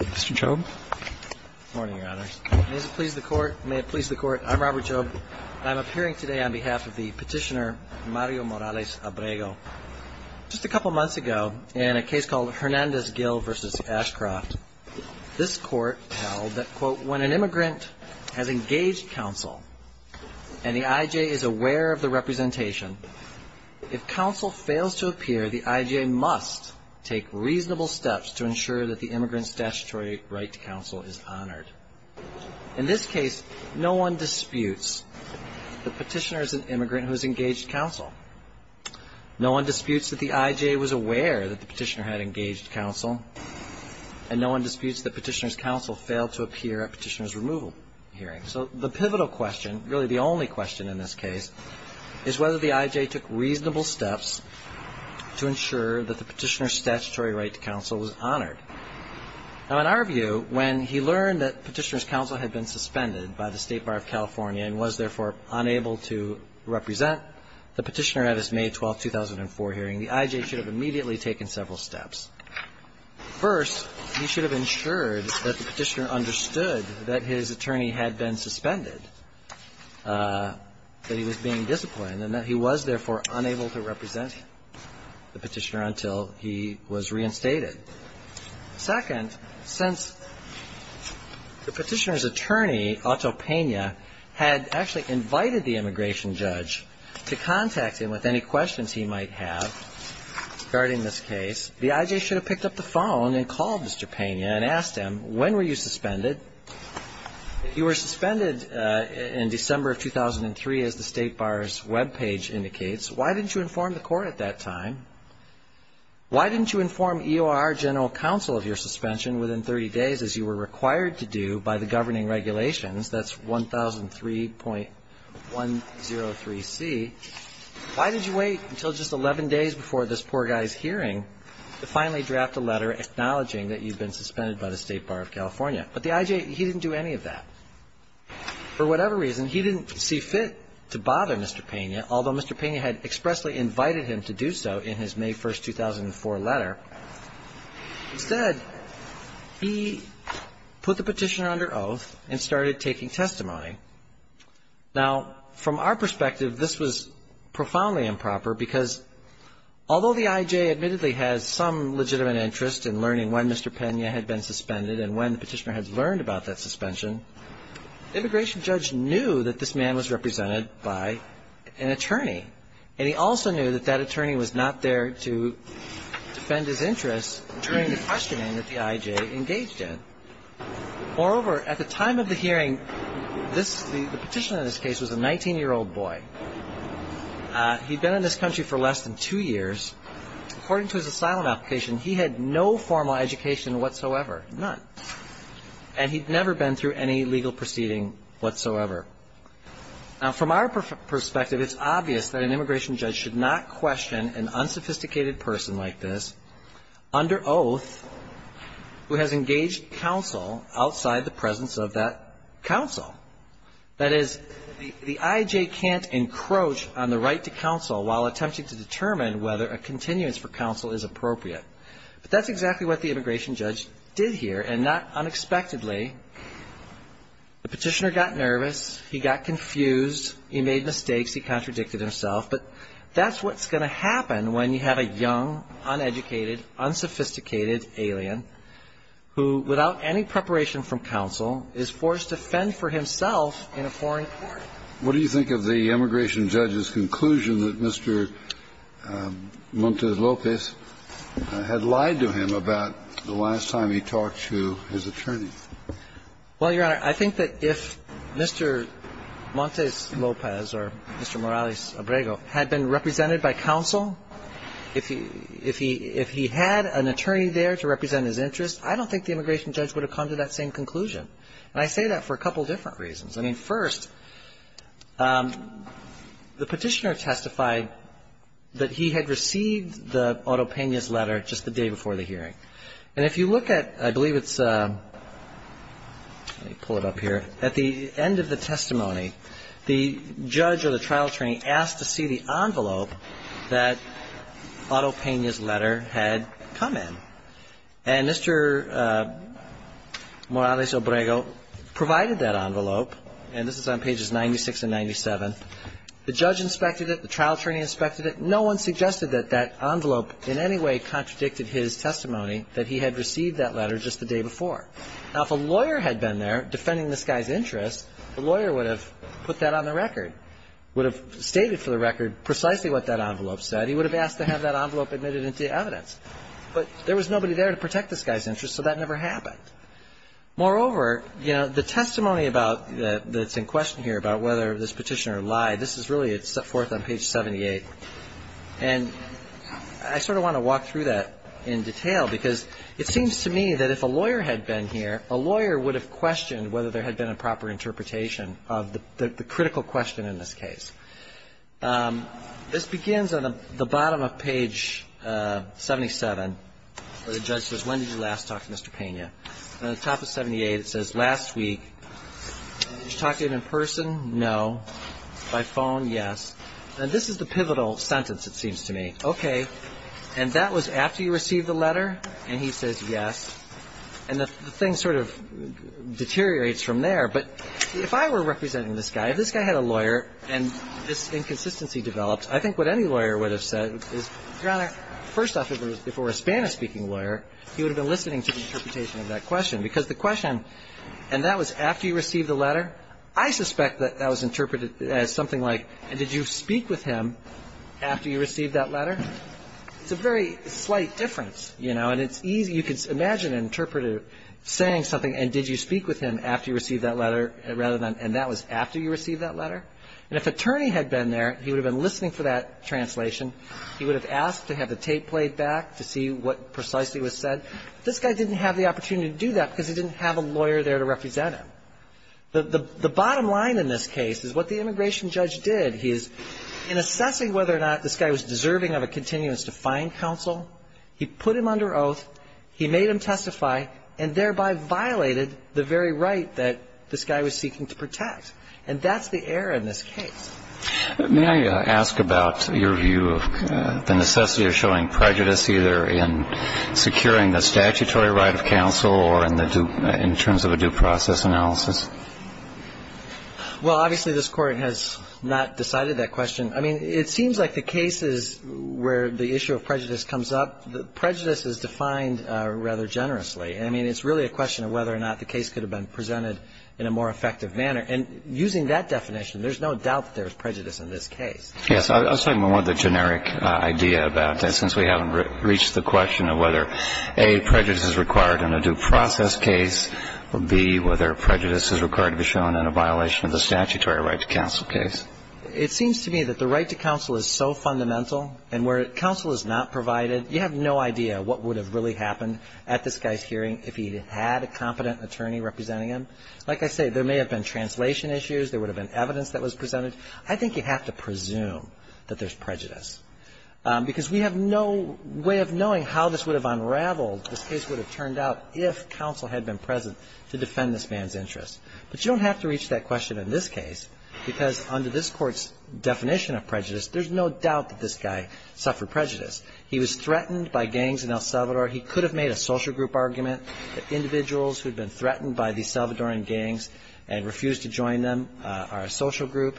Mr. Chaube. Good morning, Your Honors. May it please the Court, I'm Robert Chaube, and I'm appearing today on behalf of the petitioner Mario Morales-Abrego. Just a couple months ago, in a case called Hernandez-Gill v. Ashcroft, this Court held that, quote, when an immigrant has engaged counsel and the I.J. is aware of the representation, if counsel fails to appear, the I.J. must take reasonable steps to ensure that the immigrant's statutory right to counsel is honored. In this case, no one disputes the petitioner is an immigrant who has engaged counsel. No one disputes that the I.J. was aware that the petitioner had engaged counsel, and no one disputes that the petitioner's counsel failed to appear at the petitioner's removal hearing. So the pivotal question, really the only question in this case, is whether the I.J. took reasonable steps to ensure that the petitioner's statutory right to counsel was honored. Now, in our view, when he learned that the petitioner's counsel had been suspended by the State Bar of California and was, therefore, unable to represent the petitioner at his May 12, 2004 hearing, the I.J. should have immediately taken several steps. First, he should have ensured that the petitioner understood that his attorney had been suspended, that he was being disciplined, and that he was, therefore, unable to represent the petitioner until he was reinstated. Second, since the petitioner's attorney, Otto Pena, had actually invited the immigration judge to contact him with any questions he might have regarding this case, the I.J. should have picked up the phone and called Mr. Pena and asked him, when were you suspended? If you were suspended in December of 2003, as the State Bar's webpage indicates, why didn't you inform the court at that time? Why didn't you inform EOR General Counsel of your suspension within 30 days, as you were required to do, by the governing regulations, that's 1003.103C? Why did you wait until just 11 days before this poor guy's hearing to finally draft a letter acknowledging that you've been suspended by the State Bar of California? But the I.J., he didn't do any of that. For whatever reason, he didn't see fit to bother Mr. Pena, although Mr. Pena had expressly invited him to do so in his May 1, 2004 letter. Instead, he put the petitioner under oath and started taking testimony. Now, from our perspective, this was profoundly improper, because although the I.J. admittedly has some legitimate interest in Mr. Pena had been suspended, and when the petitioner has learned about that suspension, the immigration judge knew that this man was represented by an attorney. And he also knew that that attorney was not there to defend his interests during the questioning that the I.J. engaged in. Moreover, at the time of the hearing, this, the petitioner in this case was a 19-year-old boy. He'd been in this country for less than two years. According to his asylum application, he had no formal education whatsoever, none. And he'd never been through any legal proceeding whatsoever. Now, from our perspective, it's obvious that an immigration judge should not question an unsophisticated person like this under oath who has engaged counsel outside the presence of that counsel. That is, the I.J. can't encroach on the right to counsel while attempting to determine whether a continuance for counsel is appropriate. But that's exactly what the immigration judge did here, and not unexpectedly. The petitioner got nervous. He got confused. He made mistakes. He contradicted himself. But that's what's going to happen when you have a young, uneducated, unsophisticated alien who, without any preparation from counsel, is forced to fend for himself in a foreign court. What do you think of the immigration judge's conclusion that Mr. Montes Lopez had lied to him about the last time he talked to his attorney? Well, Your Honor, I think that if Mr. Montes Lopez or Mr. Morales-Abrego had been represented by counsel, if he had an attorney there to represent him in his interest, I don't think the immigration judge would have come to that same conclusion. And I say that for a couple different reasons. I mean, first, the petitioner testified that he had received the Otto Peña's letter just the day before the hearing. And if you look at, I believe it's, let me pull it up here. At the end of the testimony, the judge or the trial attorney asked to see the envelope that Otto Peña's letter had come in. And Mr. Morales-Abrego provided that envelope, and this is on pages 96 and 97. The judge inspected it. The trial attorney inspected it. No one suggested that that envelope in any way contradicted his testimony that he had received that letter just the day before. Now, if a lawyer had been there defending this guy's interest, the lawyer would have put that on the record, would have stated for the record precisely what that envelope said. He would have asked to have that envelope admitted into evidence. But there was nobody there to protect this guy's interest, so that never happened. Moreover, you know, the testimony that's in question here about whether this petitioner lied, this is really set forth on page 78. And I sort of want to walk through that in detail because it seems to me that if a lawyer had been here, a lawyer would have questioned whether there had been a proper interpretation of the critical question in this case. This begins on the bottom of page 77 where the judge says, when did you last talk to Mr. Pena? On the top of 78, it says, last week. Did you talk to him in person? No. By phone? Yes. And this is the pivotal sentence, it seems to me. Okay. And that was after you received the letter? And he says yes. And the thing sort of deteriorates from there. But if I were representing this guy, if this guy had a lawyer and this inconsistency developed, I think what any lawyer would have said is, Your Honor, first off, if it were a Hispanic-speaking lawyer, he would have been listening to the interpretation of that question. Because the question, and that was after you received the letter? I suspect that that was interpreted as something like, did you speak with him after you received that letter? It's a very slight difference, you know, and it's easy. You can imagine an interpreter saying something, and did you speak with him after you received that letter, rather than, and that was after you received that letter? And if an attorney had been there, he would have been listening for that translation. He would have asked to have the tape played back to see what precisely was said. This guy didn't have the opportunity to do that because he didn't have a lawyer there to represent him. The bottom line in this case is what the immigration judge did. He is, in assessing whether or not this guy was deserving of a continuance to fine counsel, he put him under oath, he made him testify, and thereby violated the very right that this guy was seeking to protect. And that's the error in this case. May I ask about your view of the necessity of showing prejudice, either in securing the statutory right of counsel or in terms of a due process analysis? Well, obviously, this Court has not decided that question. I mean, it seems like the cases where the issue of prejudice comes up, prejudice is defined rather generously. I mean, it's really a question of whether or not the case could have been presented in a more effective manner. And using that definition, there's no doubt that there is prejudice in this case. Yes. I was talking more of the generic idea about that, since we haven't reached the question of whether, A, prejudice is required in a due process case, or, B, whether prejudice is required to be shown in a violation of the statutory right to counsel case. It seems to me that the right to counsel is so fundamental. And where counsel is not provided, you have no idea what would have really happened at this guy's hearing if he had a competent attorney representing him. Like I say, there may have been translation issues. There would have been evidence that was presented. I think you have to presume that there's prejudice, because we have no way of knowing how this would have unraveled, this case would have turned out, if counsel had been present to defend this man's interest. But you don't have to reach that question in this case, because under this Court's definition of prejudice, there's no doubt that this guy suffered prejudice. He was threatened by gangs in El Salvador. He could have made a social group argument that individuals who had been threatened by these Salvadoran gangs and refused to join them are a social group.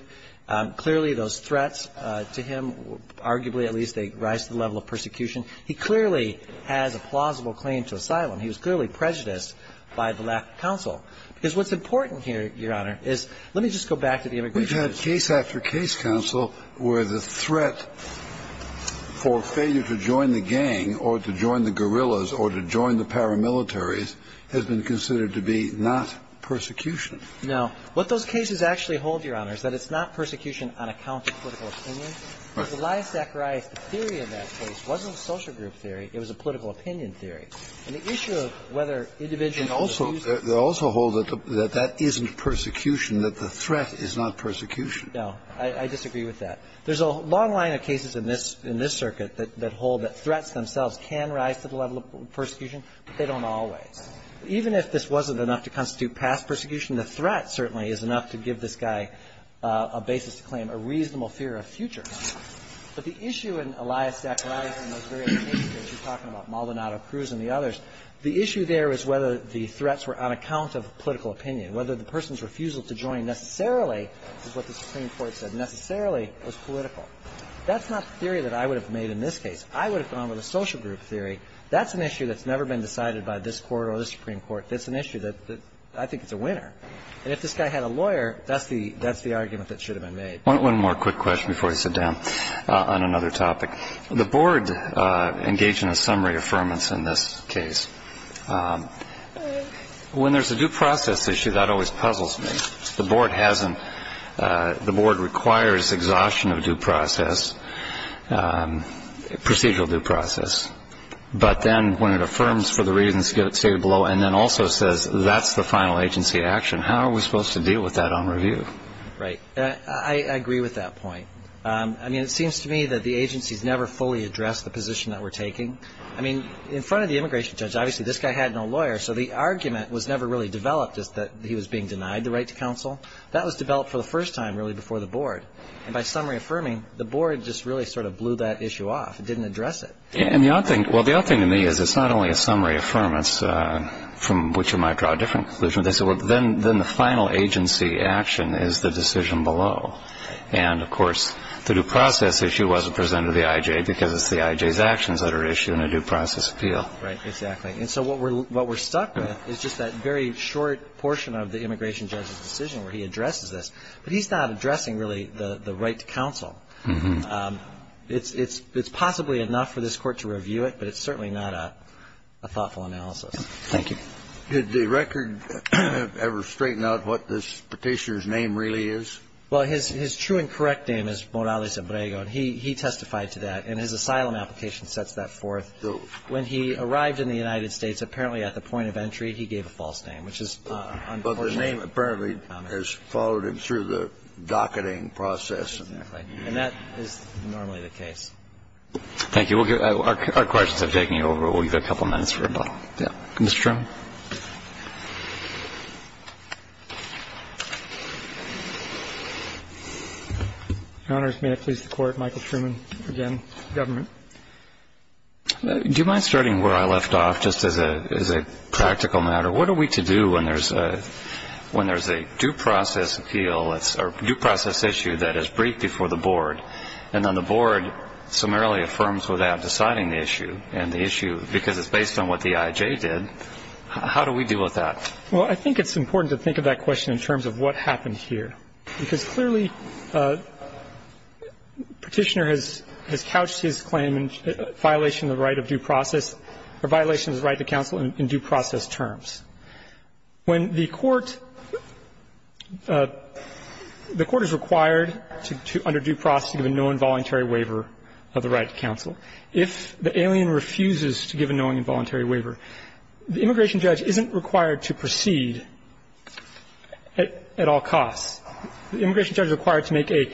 Clearly, those threats to him, arguably at least, they rise to the level of persecution. He clearly has a plausible claim to asylum. He was clearly prejudiced by the lack of counsel. Because what's important here, Your Honor, is let me just go back to the immigration issue. We've had case after case, counsel, where the threat for failure to join the gang or to join the guerrillas or to join the paramilitaries has been considered to be not persecution. No. What those cases actually hold, Your Honor, is that it's not persecution on account of political opinion. Because Elias Zacharias, the theory of that case wasn't a social group theory. And the issue of whether individuals refused to join them. They also hold that that isn't persecution, that the threat is not persecution. No. I disagree with that. There's a long line of cases in this circuit that hold that threats themselves can rise to the level of persecution, but they don't always. Even if this wasn't enough to constitute past persecution, the threat certainly is enough to give this guy a basis to claim a reasonable fear of future. But the issue in Elias Zacharias and those various cases, you're talking about Maldonado Cruz and the others, the issue there is whether the threats were on account of political opinion, whether the person's refusal to join necessarily is what the Supreme Court said, necessarily was political. That's not the theory that I would have made in this case. I would have gone with a social group theory. That's an issue that's never been decided by this Court or the Supreme Court. That's an issue that I think is a winner. And if this guy had a lawyer, that's the argument that should have been made. One more quick question before I sit down on another topic. The Board engaged in a summary affirmance in this case. When there's a due process issue, that always puzzles me. The Board hasn't. The Board requires exhaustion of due process, procedural due process. But then when it affirms for the reasons stated below and then also says that's the final agency action, how are we supposed to deal with that on review? Right. I agree with that point. I mean, it seems to me that the agency's never fully addressed the position that we're taking. I mean, in front of the immigration judge, obviously this guy had no lawyer, so the argument was never really developed is that he was being denied the right to counsel. That was developed for the first time really before the Board. And by summary affirming, the Board just really sort of blew that issue off. It didn't address it. And the odd thing to me is it's not only a summary affirmance from which you might draw a different conclusion. They said, well, then the final agency action is the decision below. And, of course, the due process issue wasn't presented to the I.J. because it's the I.J.'s actions that are issued in a due process appeal. Right. Exactly. And so what we're stuck with is just that very short portion of the immigration judge's decision where he addresses this. But he's not addressing really the right to counsel. It's possibly enough for this Court to review it, but it's certainly not a thoughtful analysis. Thank you. Did the record ever straighten out what this Petitioner's name really is? Well, his true and correct name is Morales-Abrego, and he testified to that. And his asylum application sets that forth. When he arrived in the United States, apparently at the point of entry, he gave a false name, which is unfortunate. But his name apparently has followed him through the docketing process. Exactly. And that is normally the case. Thank you. Our questions have taken you over. We'll give you a couple minutes for a moment. Mr. Truman. Your Honors, may it please the Court, Michael Truman again, government. Do you mind starting where I left off, just as a practical matter? What are we to do when there's a due process appeal or due process issue that is briefed before the Board, and then the Board summarily affirms without deciding the issue, and the issue, because it's based on what the I.I.J. did, How do we deal with that? Well, I think it's important to think of that question in terms of what happened here, because clearly Petitioner has couched his claim in violation of the right of due process or violation of the right to counsel in due process terms. When the Court is required under due process to give a knowing and voluntary waiver of the right to counsel, if the alien refuses to give a knowing and voluntary waiver, the immigration judge isn't required to proceed at all costs. The immigration judge is required to make an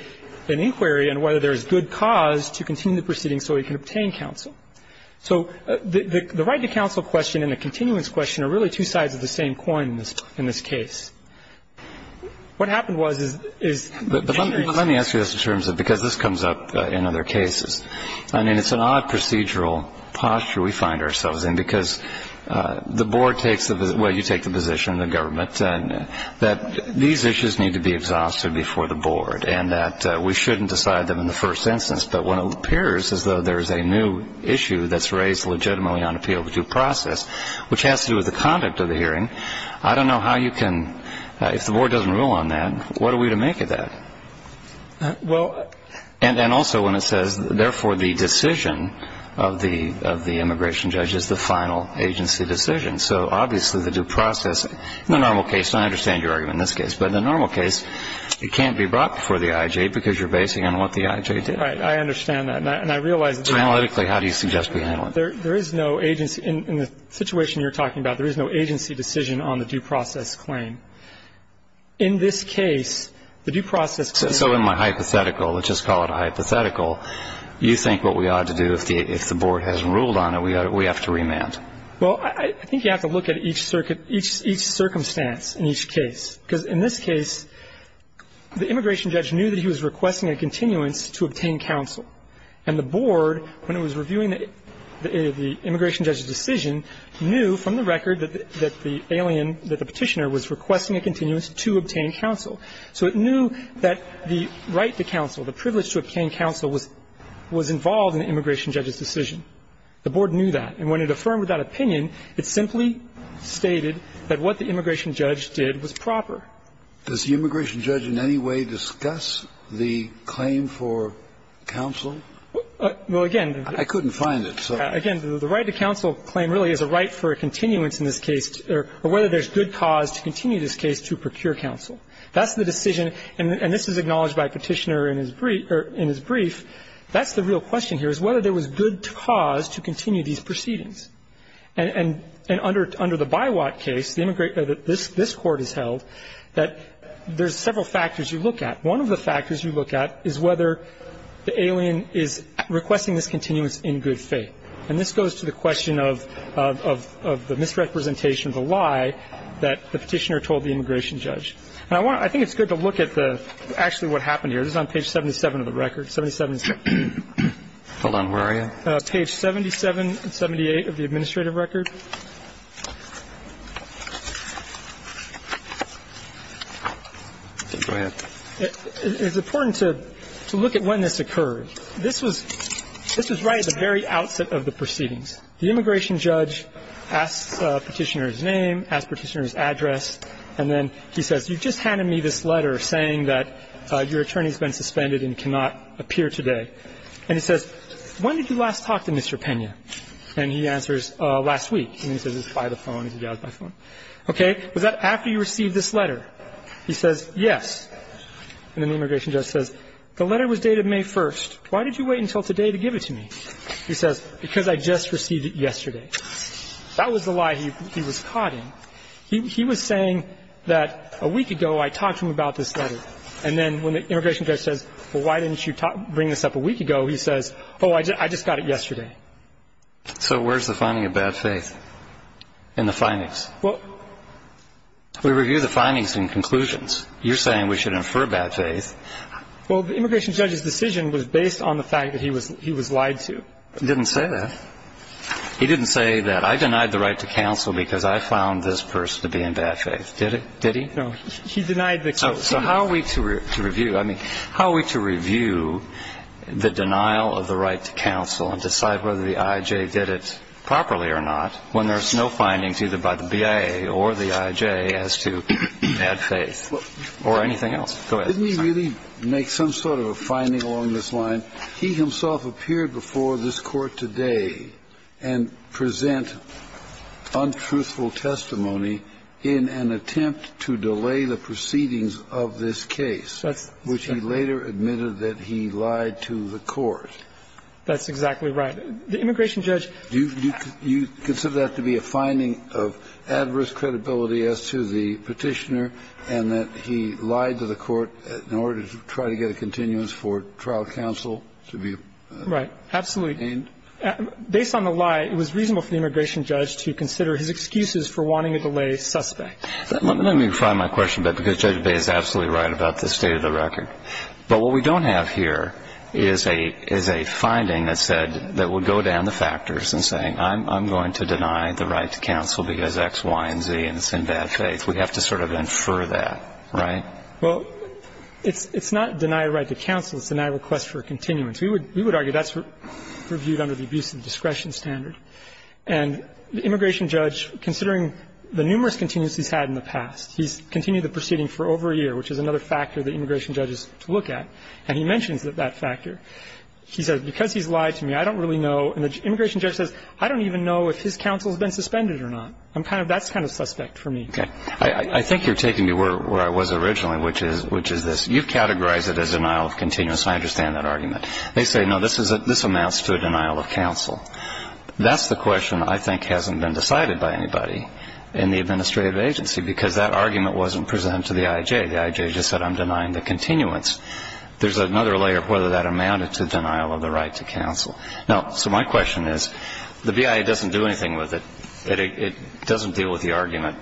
inquiry on whether there is good cause to continue the proceeding so he can obtain counsel. So the right to counsel question and the continuance question are really two sides of the same coin in this case. What happened was, is Petitioner is Let me ask you this in terms of, because this comes up in other cases. I mean, it's an odd procedural posture we find ourselves in, because the Board takes the Well, you take the position, the government, that these issues need to be exhausted before the Board and that we shouldn't decide them in the first instance. But when it appears as though there is a new issue that's raised legitimately on appeal of due process, which has to do with the conduct of the hearing, I don't know how you can If the Board doesn't rule on that, what are we to make of that? And also when it says, therefore, the decision of the immigration judge is the final agency decision. So obviously the due process, in the normal case, and I understand your argument in this case, but in the normal case, it can't be brought before the I.I.J. because you're basing it on what the I.I.J. did. Right. I understand that. And I realize that Analytically, how do you suggest we handle it? There is no agency. In the situation you're talking about, there is no agency decision on the due process claim. In this case, the due process So in my hypothetical, let's just call it a hypothetical, you think what we ought to do if the Board hasn't ruled on it, we have to remand? Well, I think you have to look at each circumstance in each case. Because in this case, the immigration judge knew that he was requesting a continuance to obtain counsel. And the Board, when it was reviewing the immigration judge's decision, knew from the record that the alien, that the petitioner was requesting a continuance to obtain counsel. So it knew that the right to counsel, the privilege to obtain counsel, was involved in the immigration judge's decision. The Board knew that. And when it affirmed that opinion, it simply stated that what the immigration judge did was proper. Does the immigration judge in any way discuss the claim for counsel? Well, again, the I couldn't find it. Again, the right to counsel claim really is a right for a continuance in this case, or whether there's good cause to continue this case to procure counsel. That's the decision. And this is acknowledged by Petitioner in his brief. That's the real question here, is whether there was good cause to continue these proceedings. And under the Biwak case, this Court has held that there's several factors you look at. One of the factors you look at is whether the alien is requesting this continuance in good faith. And this goes to the question of the misrepresentation of the lie that the petitioner told the immigration judge. And I think it's good to look at the actually what happened here. This is on page 77 of the record, 77. Hold on. Where are you? Page 77 and 78 of the administrative record. Go ahead. It's important to look at when this occurred. This was right at the very outset of the proceedings. The immigration judge asks Petitioner his name, asks Petitioner his address, and then he says, you just handed me this letter saying that your attorney's been suspended and cannot appear today. And he says, when did you last talk to Mr. Pena? And he answers, last week. And he says, by the phone. He goes by phone. Okay. Was that after you received this letter? He says, yes. And then the immigration judge says, the letter was dated May 1st. Why did you wait until today to give it to me? He says, because I just received it yesterday. That was the lie he was caught in. He was saying that a week ago I talked to him about this letter. And then when the immigration judge says, well, why didn't you bring this up a week ago, he says, oh, I just got it yesterday. So where's the finding of bad faith in the findings? We review the findings and conclusions. You're saying we should infer bad faith. Well, the immigration judge's decision was based on the fact that he was lied to. He didn't say that. He didn't say that. I denied the right to counsel because I found this person to be in bad faith. Did he? No. He denied the conclusion. So how are we to review? The denial of the right to counsel and decide whether the IJ did it properly or not when there's no findings either by the BIA or the IJ as to bad faith or anything else? Go ahead. Didn't he really make some sort of a finding along this line? He himself appeared before this Court today and present untruthful testimony in an attempt to delay the proceedings of this case, which he later admitted that he lied to the court. That's exactly right. The immigration judge ---- Do you consider that to be a finding of adverse credibility as to the petitioner and that he lied to the court in order to try to get a continuance for trial counsel to be obtained? Right. Absolutely. Based on the lie, it was reasonable for the immigration judge to consider his excuses for wanting to delay suspects. Let me refine my question a bit because Judge Bay is absolutely right about the state of the record. But what we don't have here is a finding that said that would go down the factors in saying, I'm going to deny the right to counsel because X, Y, and Z, and it's in bad faith. We have to sort of infer that, right? Well, it's not deny a right to counsel. It's deny a request for a continuance. We would argue that's reviewed under the abuse of discretion standard. And the immigration judge, considering the numerous continuances he's had in the And he mentions that factor. He says, because he's lied to me, I don't really know. And the immigration judge says, I don't even know if his counsel has been suspended or not. That's kind of suspect for me. Okay. I think you're taking me where I was originally, which is this. You've categorized it as denial of continuance. I understand that argument. They say, no, this amounts to a denial of counsel. That's the question I think hasn't been decided by anybody in the administrative agency because that argument wasn't presented to the I.J. The I.J. just said I'm denying the continuance. There's another layer of whether that amounted to denial of the right to counsel. Now, so my question is, the BIA doesn't do anything with it. It doesn't deal with the argument.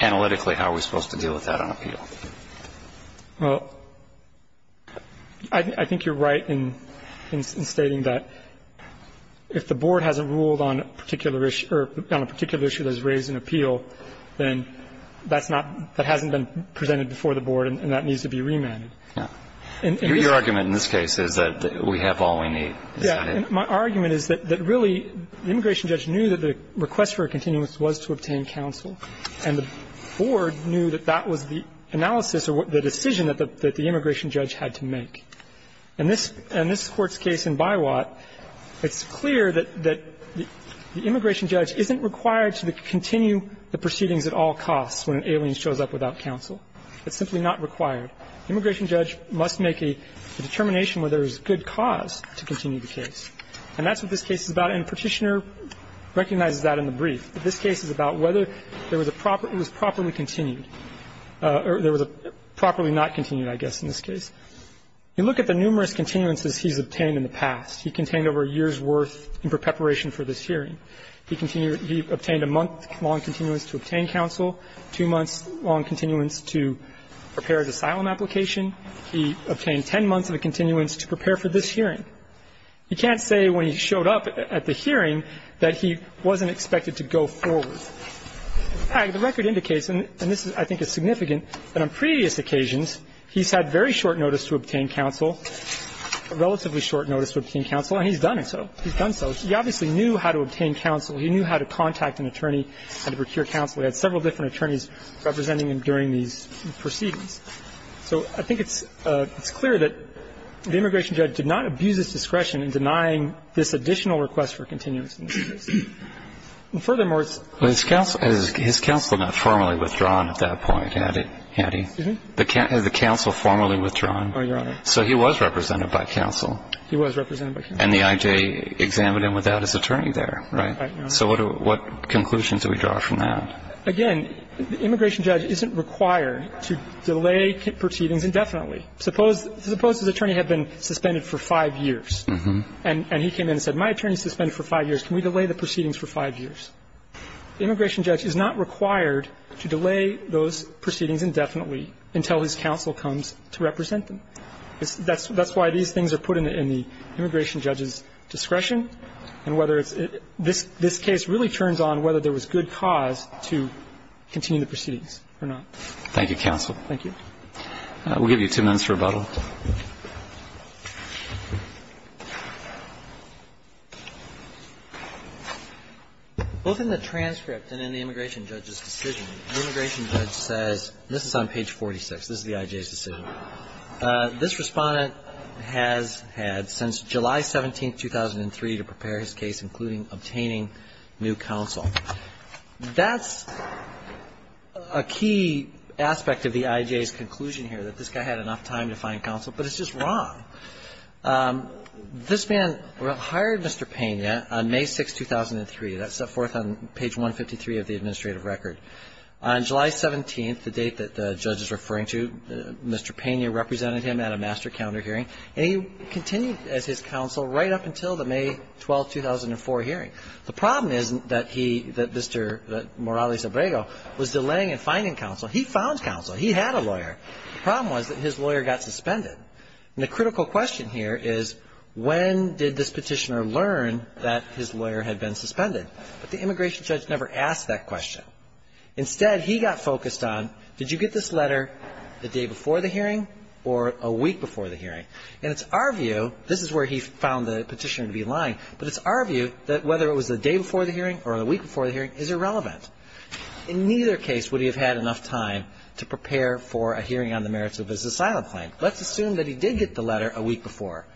Analytically, how are we supposed to deal with that on appeal? Well, I think you're right in stating that if the board hasn't ruled on a particular issue that has raised an appeal, then that's not – that hasn't been presented before the board and that needs to be remanded. Yeah. Your argument in this case is that we have all we need. Is that it? Yeah. And my argument is that really the immigration judge knew that the request for a continuance was to obtain counsel. And the board knew that that was the analysis or the decision that the immigration judge had to make. And this Court's case in Biwat, it's clear that the immigration judge isn't required to continue the proceedings at all costs when an alien shows up without counsel. It's simply not required. The immigration judge must make a determination whether there's good cause to continue the case. And that's what this case is about. And Petitioner recognizes that in the brief. But this case is about whether there was a proper – it was properly continued or there was a properly not continued, I guess, in this case. You look at the numerous continuances he's obtained in the past. He contained over a year's worth in preparation for this hearing. He obtained a month-long continuance to obtain counsel, two months-long continuance to prepare an asylum application. He obtained 10 months of a continuance to prepare for this hearing. You can't say when he showed up at the hearing that he wasn't expected to go forward. In fact, the record indicates, and this I think is significant, that on previous occasions, he's had very short notice to obtain counsel, relatively short notice to obtain counsel, and he's done so. He's done so. He obviously knew how to obtain counsel. He knew how to contact an attorney, how to procure counsel. He had several different attorneys representing him during these proceedings. So I think it's clear that the immigration judge did not abuse his discretion in denying this additional request for continuance. And furthermore, it's – And his counsel had not formally withdrawn at that point, had he? Excuse me? Has the counsel formally withdrawn? Oh, Your Honor. So he was represented by counsel. He was represented by counsel. And the I.J. examined him without his attorney there, right? Right, Your Honor. So what conclusions do we draw from that? Again, the immigration judge isn't required to delay proceedings indefinitely. Suppose his attorney had been suspended for five years, and he came in and said, my attorney is suspended for five years. Can we delay the proceedings for five years? The immigration judge is not required to delay those proceedings indefinitely until his counsel comes to represent them. That's why these things are put in the immigration judge's discretion and whether it's – this case really turns on whether there was good cause to continue the proceedings or not. Thank you, counsel. Thank you. We'll give you two minutes for rebuttal. Both in the transcript and in the immigration judge's decision, the immigration judge says – this is on page 46. This is the I.J.'s decision. This Respondent has had since July 17, 2003, to prepare his case, including obtaining new counsel. That's a key aspect of the I.J.'s conclusion here, that this guy had enough time to find counsel, but it's just wrong. This man hired Mr. Pena on May 6, 2003. That's set forth on page 153 of the administrative record. On July 17th, the date that the judge is referring to, Mr. Pena represented him at a master counter hearing, and he continued as his counsel right up until the May 12, 2004 hearing. The problem isn't that he – that Mr. Morales-Abrego was delaying in finding counsel. He found counsel. He had a lawyer. The problem was that his lawyer got suspended. And the critical question here is, when did this petitioner learn that his lawyer had been suspended? But the immigration judge never asked that question. Instead, he got focused on, did you get this letter the day before the hearing or a week before the hearing? And it's our view – this is where he found the petitioner to be lying – but it's our view that whether it was the day before the hearing or the week before the hearing is irrelevant. In neither case would he have had enough time to prepare for a hearing on the merits of his asylum claim. Let's assume that he did get the letter a week before,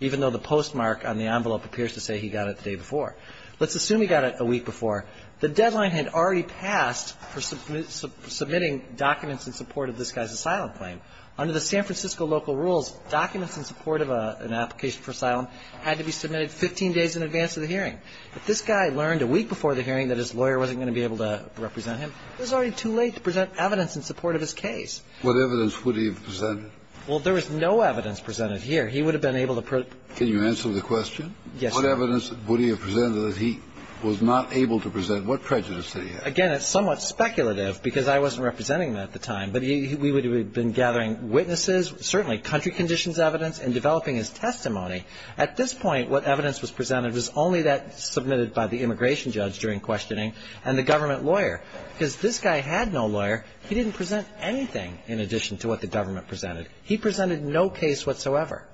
even though the postmark on the envelope appears to say he got it the day before. Let's assume he got it a week before. The deadline had already passed for submitting documents in support of this guy's asylum claim. Under the San Francisco local rules, documents in support of an application for asylum had to be submitted 15 days in advance of the hearing. But this guy learned a week before the hearing that his lawyer wasn't going to be able to represent him. It was already too late to present evidence in support of his case. What evidence would he have presented? Well, there was no evidence presented here. He would have been able to – Can you answer the question? Yes, sir. What evidence would he have presented that he was not able to present? What prejudice did he have? Again, it's somewhat speculative because I wasn't representing him at the time, but we would have been gathering witnesses, certainly country conditions evidence, and developing his testimony. At this point, what evidence was presented was only that submitted by the immigration judge during questioning and the government lawyer. Because this guy had no lawyer. He didn't present anything in addition to what the government presented. He presented no case whatsoever.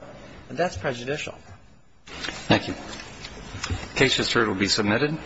And that's prejudicial. Thank you. Case just heard will be submitted.